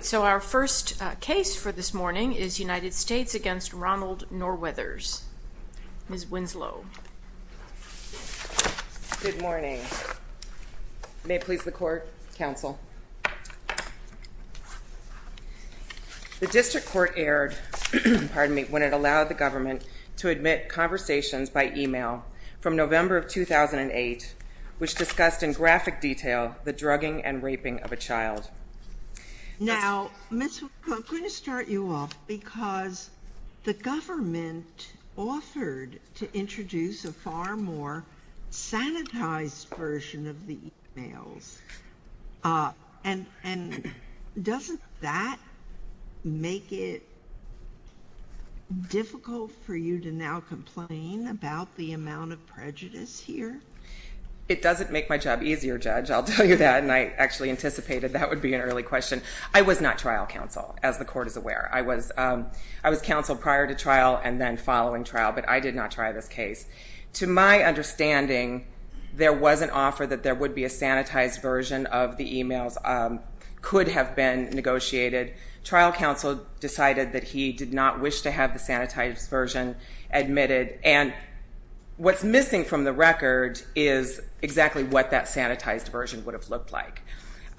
So our first case for this morning is United States v. Ronald Norweathers. Ms. Winslow. Good morning. May it please the court, counsel. The district court erred when it allowed the government to admit conversations by e-mail from November of 2008 which discussed in graphic detail the drugging and raping of a child. Now, Ms. Winslow, I'm going to start you off because the government offered to introduce a far more sanitized version of the e-mails. And doesn't that make it difficult for you to now complain about the amount of prejudice here? It doesn't make my job easier, Judge, I'll tell you that, and I actually anticipated that would be an early question. I was not trial counsel, as the court is aware. I was counsel prior to trial and then following trial, but I did not try this case. To my understanding, there was an offer that there would be a sanitized version of the e-mails could have been negotiated. Trial counsel decided that he did not wish to have the sanitized version admitted. And what's missing from the record is exactly what that sanitized version would have looked like.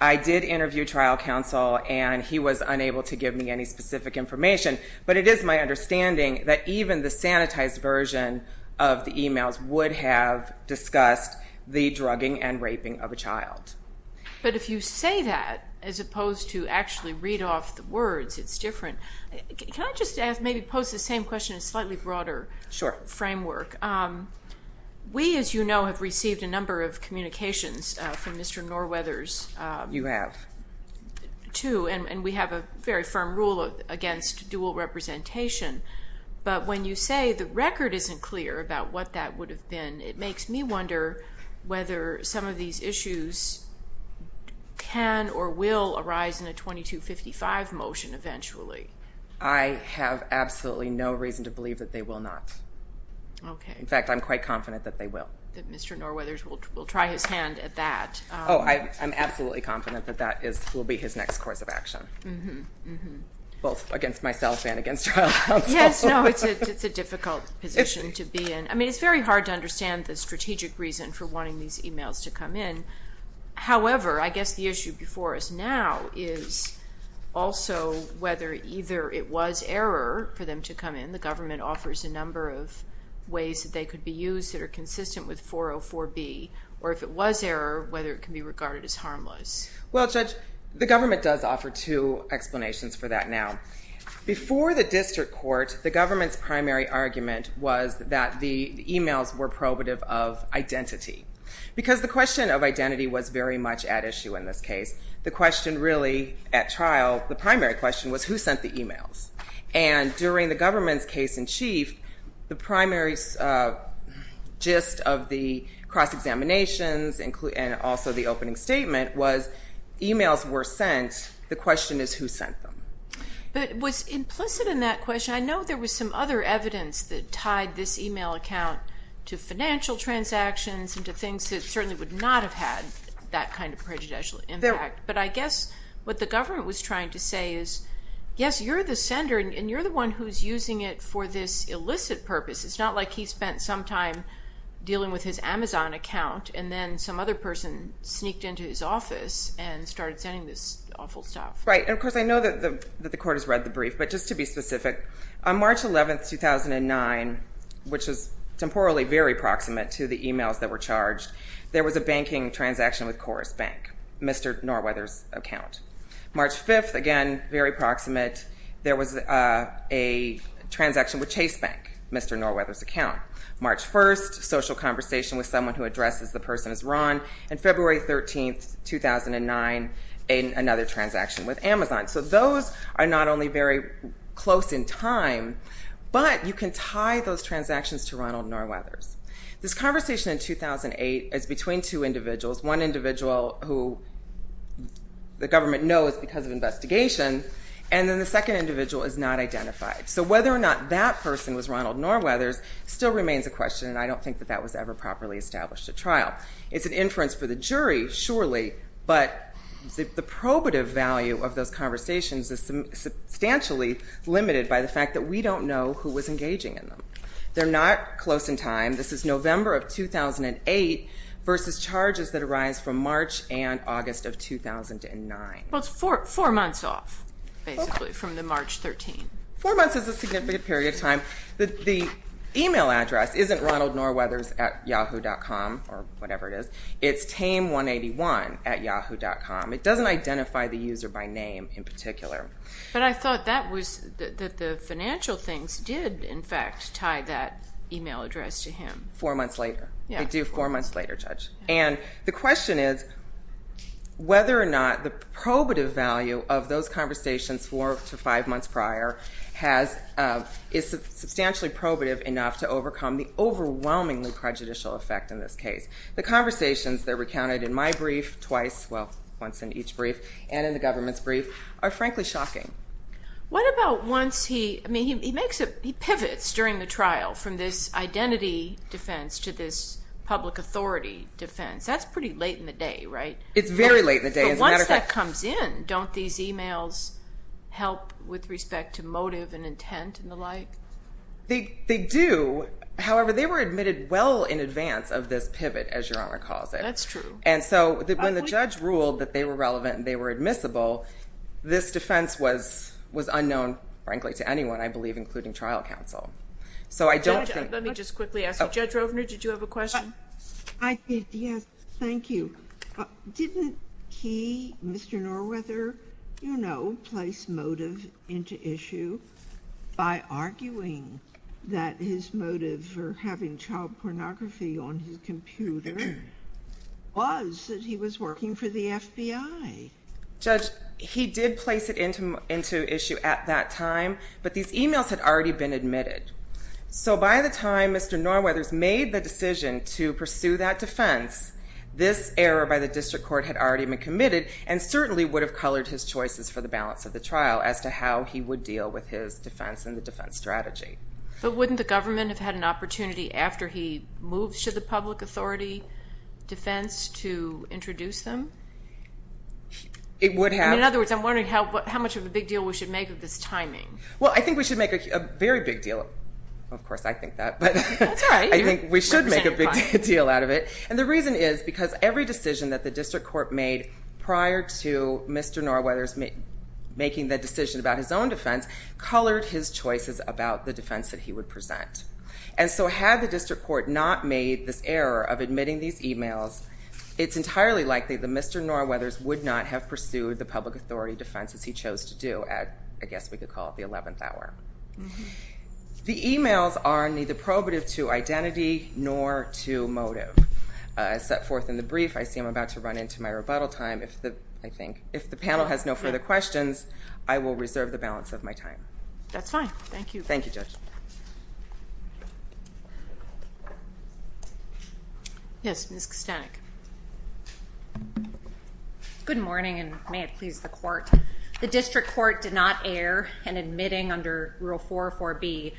I did interview trial counsel, and he was unable to give me any specific information. But it is my understanding that even the sanitized version of the e-mails would have discussed the drugging and raping of a child. But if you say that, as opposed to actually read off the words, it's different. Can I just ask, maybe pose the same question in a slightly broader framework? Sure. We, as you know, have received a number of communications from Mr. Norwether's. You have. Two, and we have a very firm rule against dual representation. But when you say the record isn't clear about what that would have been, it makes me wonder whether some of these issues can or will arise in a 2255 motion eventually. I have absolutely no reason to believe that they will not. Okay. In fact, I'm quite confident that they will. That Mr. Norwether's will try his hand at that. Oh, I'm absolutely confident that that will be his next course of action. Both against myself and against trial counsel. Yes, no, it's a difficult position to be in. I mean, it's very hard to understand the strategic reason for wanting these e-mails to come in. However, I guess the issue before us now is also whether either it was error for them to come in. The government offers a number of ways that they could be used that are consistent with 404B. Or if it was error, whether it can be regarded as harmless. Well, Judge, the government does offer two explanations for that now. Before the district court, the government's primary argument was that the e-mails were probative of identity. Because the question of identity was very much at issue in this case. The question really at trial, the primary question was who sent the e-mails. And during the government's case in chief, the primary gist of the cross-examinations and also the opening statement was e-mails were sent. The question is who sent them. But it was implicit in that question. I know there was some other evidence that tied this e-mail account to financial transactions and to things that certainly would not have had that kind of prejudicial impact. But I guess what the government was trying to say is, yes, you're the sender and you're the one who's using it for this illicit purpose. It's not like he spent some time dealing with his Amazon account and then some other person sneaked into his office and started sending this awful stuff. Right. And, of course, I know that the court has read the brief. But just to be specific, on March 11, 2009, which is temporally very proximate to the e-mails that were charged, there was a banking transaction with Chorus Bank, Mr. Norweather's account. March 5, again, very proximate, there was a transaction with Chase Bank, Mr. Norweather's account. March 1, social conversation with someone who addresses the person as Ron. And February 13, 2009, another transaction with Amazon. So those are not only very close in time, but you can tie those transactions to Ronald Norweather's. This conversation in 2008 is between two individuals. One individual who the government knows because of investigation, and then the second individual is not identified. So whether or not that person was Ronald Norweather's still remains a question, and I don't think that that was ever properly established at trial. It's an inference for the jury, surely, but the probative value of those conversations is substantially limited by the fact that we don't know who was engaging in them. They're not close in time. This is November of 2008 versus charges that arise from March and August of 2009. Well, it's four months off, basically, from the March 13. Four months is a significant period of time. The e-mail address isn't Ronald Norweather's at yahoo.com or whatever it is. It's tame181 at yahoo.com. It doesn't identify the user by name in particular. But I thought that the financial things did, in fact, tie that e-mail address to him. Four months later. They do four months later, Judge. And the question is whether or not the probative value of those conversations four to five months prior is substantially probative enough to overcome the overwhelmingly prejudicial effect in this case. The conversations that are recounted in my brief twice, well, once in each brief, and in the government's brief, are frankly shocking. What about once he pivots during the trial from this identity defense to this public authority defense? That's pretty late in the day, right? It's very late in the day. But once that comes in, don't these e-mails help with respect to motive and intent and the like? They do. However, they were admitted well in advance of this pivot, as Your Honor calls it. That's true. And so when the judge ruled that they were relevant and they were admissible, this defense was unknown, frankly, to anyone, I believe, including trial counsel. Let me just quickly ask you. Judge Rovner, did you have a question? I did, yes. Thank you. Didn't he, Mr. Norwether, you know, place motive into issue by arguing that his motive for having child pornography on his computer was that he was working for the FBI? Judge, he did place it into issue at that time, but these e-mails had already been admitted. So by the time Mr. Norwether's made the decision to pursue that defense, this error by the district court had already been committed and certainly would have colored his choices for the balance of the trial as to how he would deal with his defense and the defense strategy. But wouldn't the government have had an opportunity after he moved to the public authority defense to introduce them? It would have. In other words, I'm wondering how much of a big deal we should make of this timing. Well, I think we should make a very big deal. Of course, I think that. That's all right. I think we should make a big deal out of it. And the reason is because every decision that the district court made prior to Mr. Norwether's making the decision about his own defense colored his choices about the defense that he would present. And so had the district court not made this error of admitting these e-mails, it's entirely likely that Mr. Norwether's would not have pursued the public authority defense as he chose to do at, I guess we could call it the 11th hour. The e-mails are neither probative to identity nor to motive. As set forth in the brief, I see I'm about to run into my rebuttal time. If the panel has no further questions, I will reserve the balance of my time. That's fine. Thank you. Thank you, Judge. Yes, Ms. Kostanek. Good morning, and may it please the court. The district court did not err in admitting under Rule 404B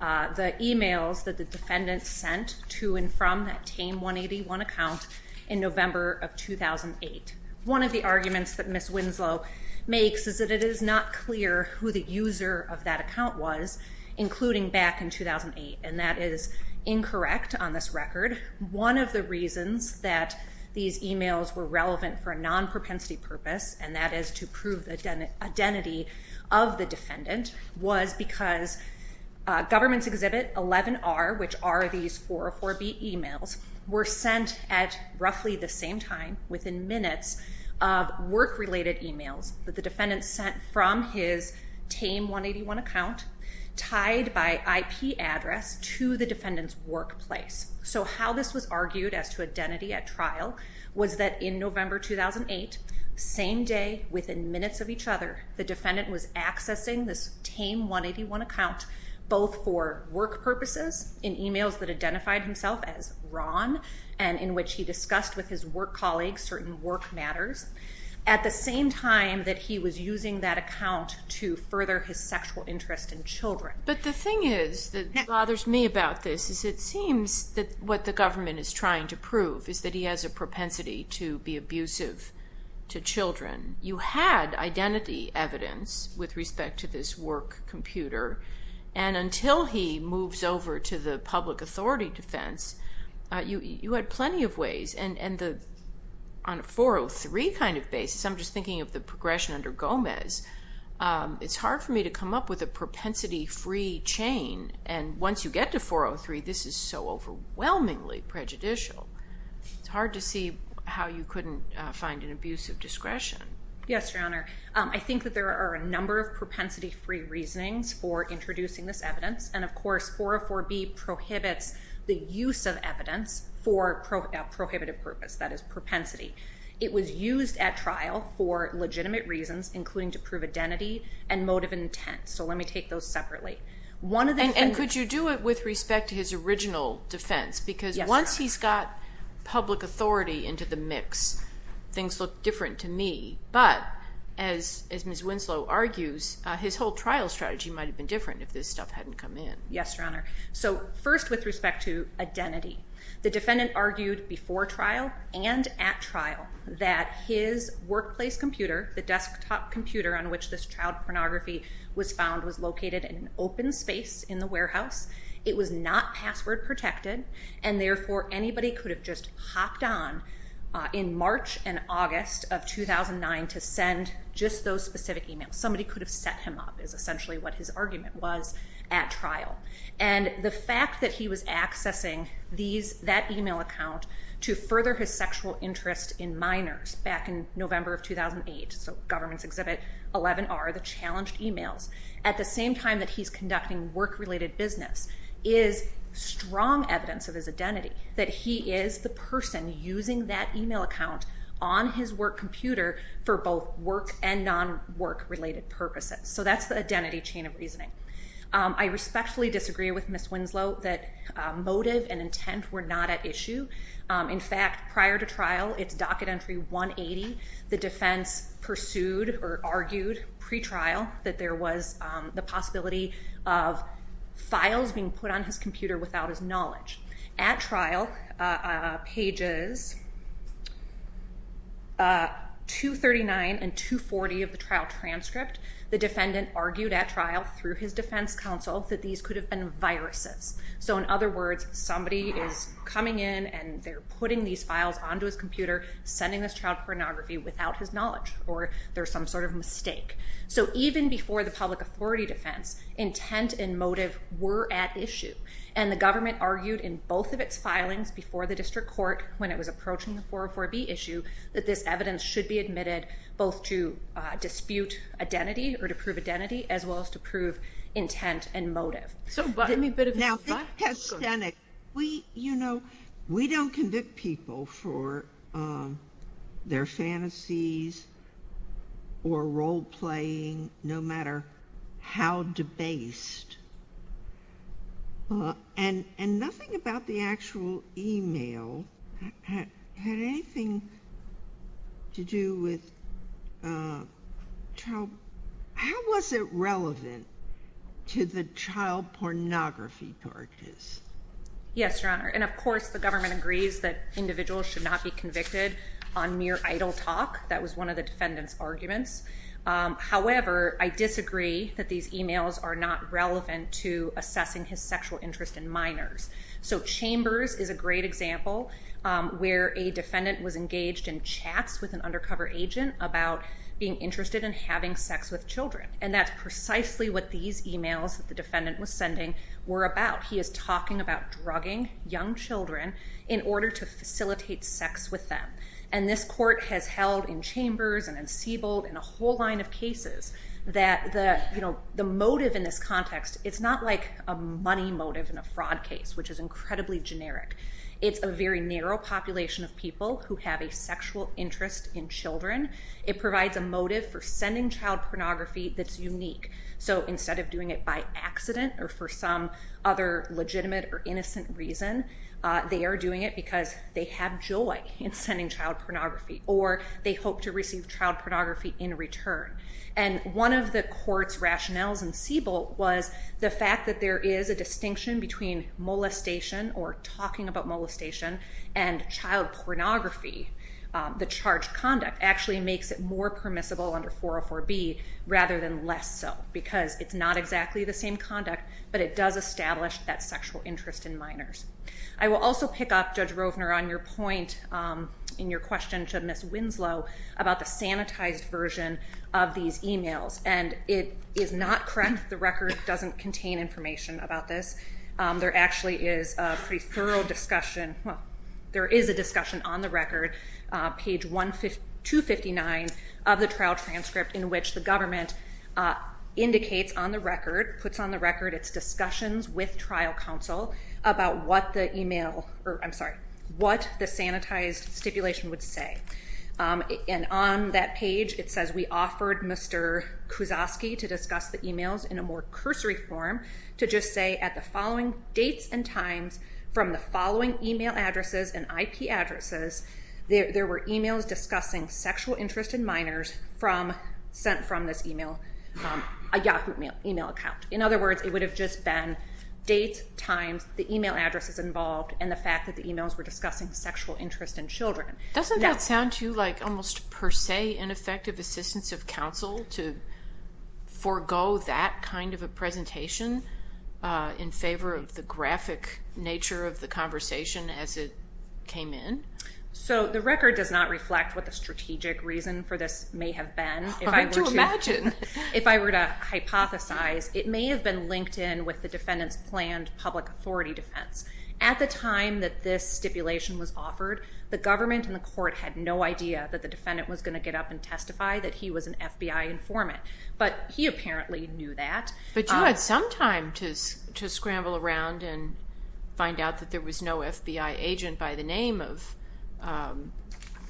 the e-mails that the defendant sent to and from that Tame 181 account in November of 2008. One of the arguments that Ms. Winslow makes is that it is not clear who the user of that account was, including back in 2008, and that is incorrect on this record. One of the reasons that these e-mails were relevant for a non-propensity purpose, and that is to prove the identity of the defendant, was because Government's Exhibit 11R, which are these 404B e-mails, were sent at roughly the same time within minutes of work-related e-mails that the defendant sent from his Tame 181 account tied by IP address to the defendant's workplace. So how this was argued as to identity at trial was that in November 2008, same day, within minutes of each other, the defendant was accessing this Tame 181 account, both for work purposes in e-mails that identified himself as Ron and in which he discussed with his work colleagues certain work matters, at the same time that he was using that account to further his sexual interest in children. But the thing is that bothers me about this is it seems that what the government is trying to prove is that he has a propensity to be abusive to children. You had identity evidence with respect to this work computer, and until he moves over to the public authority defense, you had plenty of ways. And on a 403 kind of basis, I'm just thinking of the progression under Gomez, it's hard for me to come up with a propensity-free chain, and once you get to 403, this is so overwhelmingly prejudicial. It's hard to see how you couldn't find an abusive discretion. Yes, Your Honor. I think that there are a number of propensity-free reasonings for introducing this evidence, and of course 404B prohibits the use of evidence for a prohibited purpose, that is propensity. It was used at trial for legitimate reasons, including to prove identity and motive and intent. So let me take those separately. And could you do it with respect to his original defense? Yes, Your Honor. Because once he's got public authority into the mix, things look different to me. But as Ms. Winslow argues, his whole trial strategy might have been different if this stuff hadn't come in. Yes, Your Honor. So first with respect to identity, the defendant argued before trial and at trial that his workplace computer, the desktop computer on which this child pornography was found, was located in an open space in the warehouse. It was not password protected, and therefore anybody could have just hopped on in March and August of 2009 to send just those specific emails. Somebody could have set him up is essentially what his argument was at trial. And the fact that he was accessing that email account to further his sexual interest in minors back in November of 2008, so Government's Exhibit 11R, the challenged emails, at the same time that he's conducting work-related business is strong evidence of his identity, that he is the person using that email account on his work computer for both work and non-work-related purposes. So that's the identity chain of reasoning. I respectfully disagree with Ms. Winslow that motive and intent were not at issue. In fact, prior to trial, it's Docket Entry 180, the defense pursued or argued pre-trial that there was the possibility of files being put on his computer without his knowledge. At trial, pages 239 and 240 of the trial transcript, the defendant argued at trial through his defense counsel that these could have been viruses. So in other words, somebody is coming in and they're putting these files onto his computer, sending this child pornography without his knowledge, or there's some sort of mistake. So even before the public authority defense, intent and motive were at issue. And the government argued in both of its filings before the district court when it was approaching the 404B issue that this evidence should be admitted both to dispute identity or to prove identity, as well as to prove intent and motive. So give me a bit of context. You know, we don't convict people for their fantasies or role-playing, no matter how debased. And nothing about the actual email had anything to do with child... How was it relevant to the child pornography charges? Yes, Your Honor, and of course the government agrees that individuals should not be convicted on mere idle talk. However, I disagree that these emails are not relevant to assessing his sexual interest in minors. So Chambers is a great example where a defendant was engaged in chats with an undercover agent about being interested in having sex with children. And that's precisely what these emails that the defendant was sending were about. He is talking about drugging young children in order to facilitate sex with them. And this court has held in Chambers and in Siebold and a whole line of cases that the motive in this context, it's not like a money motive in a fraud case, which is incredibly generic. It's a very narrow population of people who have a sexual interest in children. It provides a motive for sending child pornography that's unique. So instead of doing it by accident or for some other legitimate or innocent reason, they are doing it because they have joy in sending child pornography or they hope to receive child pornography in return. And one of the court's rationales in Siebold was the fact that there is a distinction between molestation or talking about molestation and child pornography. The charged conduct actually makes it more permissible under 404B rather than less so because it's not exactly the same conduct but it does establish that sexual interest in minors. I will also pick up, Judge Rovner, on your point in your question to Ms. Winslow about the sanitized version of these emails. And it is not correct. The record doesn't contain information about this. There actually is a pretty thorough discussion. Well, there is a discussion on the record, page 259 of the trial transcript in which the government indicates on the record, puts on the record its discussions with trial counsel about what the sanitized stipulation would say. And on that page it says we offered Mr. Kuzoski to discuss the emails in a more cursory form to just say at the following dates and times from the following email addresses and IP addresses there were emails discussing sexual interest in minors sent from this email, a Yahoo email account. In other words, it would have just been dates, times, the email addresses involved and the fact that the emails were discussing sexual interest in children. Doesn't that sound to you like almost per se an effective assistance of counsel to forego that kind of a presentation in favor of the graphic nature of the conversation as it came in? So the record does not reflect what the strategic reason for this may have been. Hard to imagine. If I were to hypothesize, it may have been linked in with the defendant's planned public authority defense. At the time that this stipulation was offered, the government and the court had no idea that the defendant was going to get up and testify that he was an FBI informant. But he apparently knew that. But you had some time to scramble around and find out that there was no FBI agent by the name of,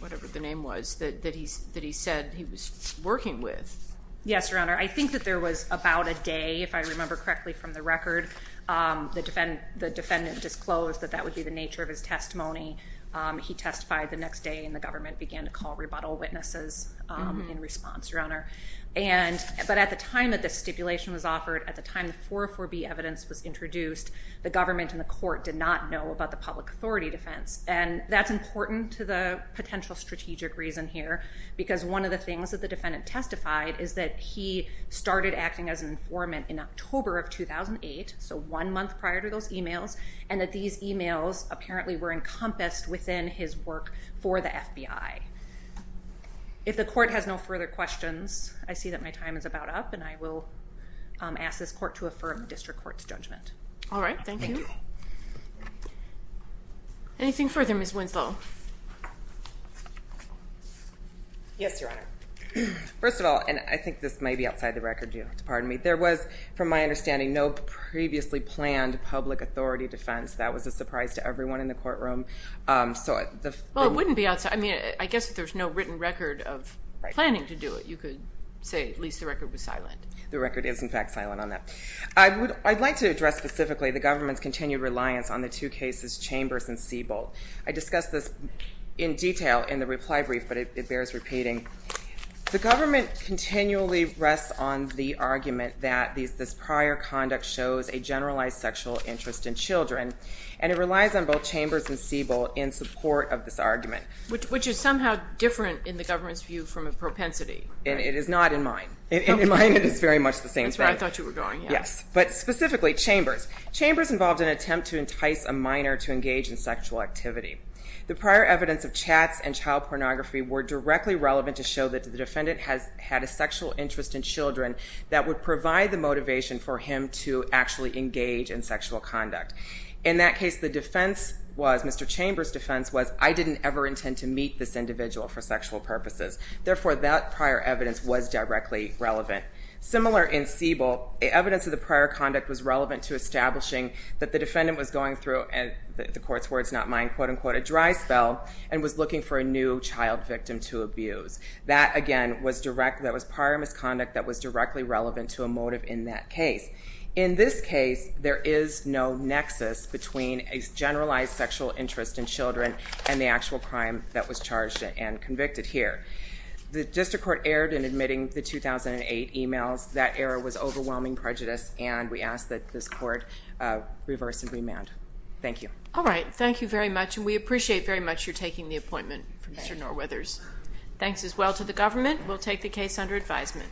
whatever the name was, that he said he was working with. Yes, Your Honor. I think that there was about a day, if I remember correctly from the record, the defendant disclosed that that would be the nature of his testimony. He testified the next day and the government began to call rebuttal witnesses in response, Your Honor. But at the time that this stipulation was offered, at the time the 404B evidence was introduced, the government and the court did not know about the public authority defense. And that's important to the potential strategic reason here, because one of the things that the defendant testified is that he started acting as an informant in October of 2008, so one month prior to those emails, and that these emails apparently were encompassed within his work for the FBI. If the court has no further questions, I see that my time is about up, and I will ask this court to affirm the district court's judgment. All right, thank you. Anything further, Ms. Winslow? Yes, Your Honor. First of all, and I think this may be outside the record, you'll have to pardon me, there was, from my understanding, no previously planned public authority defense. That was a surprise to everyone in the courtroom. Well, it wouldn't be outside. I mean, I guess if there's no written record of planning to do it, you could say at least the record was silent. The record is, in fact, silent on that. I'd like to address specifically the government's continued reliance on the two cases Chambers and Siebel. I discussed this in detail in the reply brief, but it bears repeating. The government continually rests on the argument that this prior conduct shows a generalized sexual interest in children, and it relies on both Chambers and Siebel in support of this argument. Which is somehow different in the government's view from a propensity. It is not in mine. In mine, it is very much the same thing. That's right, I thought you were going, yes. Yes, but specifically Chambers. Chambers involved an attempt to entice a minor to engage in sexual activity. The prior evidence of chats and child pornography were directly relevant to show that the defendant had a sexual interest in children that would provide the motivation for him to actually engage in sexual conduct. In that case, the defense was, Mr. Chambers' defense was, I didn't ever intend to meet this individual for sexual purposes. Therefore, that prior evidence was directly relevant. Similar in Siebel, evidence of the prior conduct was relevant to establishing that the defendant was going through, and the court's word is not mine, a dry spell, and was looking for a new child victim to abuse. That, again, was prior misconduct that was directly relevant to a motive in that case. In this case, there is no nexus between a generalized sexual interest in children and the actual crime that was charged and convicted here. The district court erred in admitting the 2008 emails. That error was overwhelming prejudice, and we ask that this court reverse and remand. Thank you. All right. Thank you very much, and we appreciate very much your taking the appointment, Mr. Norweathers. Thanks as well to the government. We'll take the case under advisement.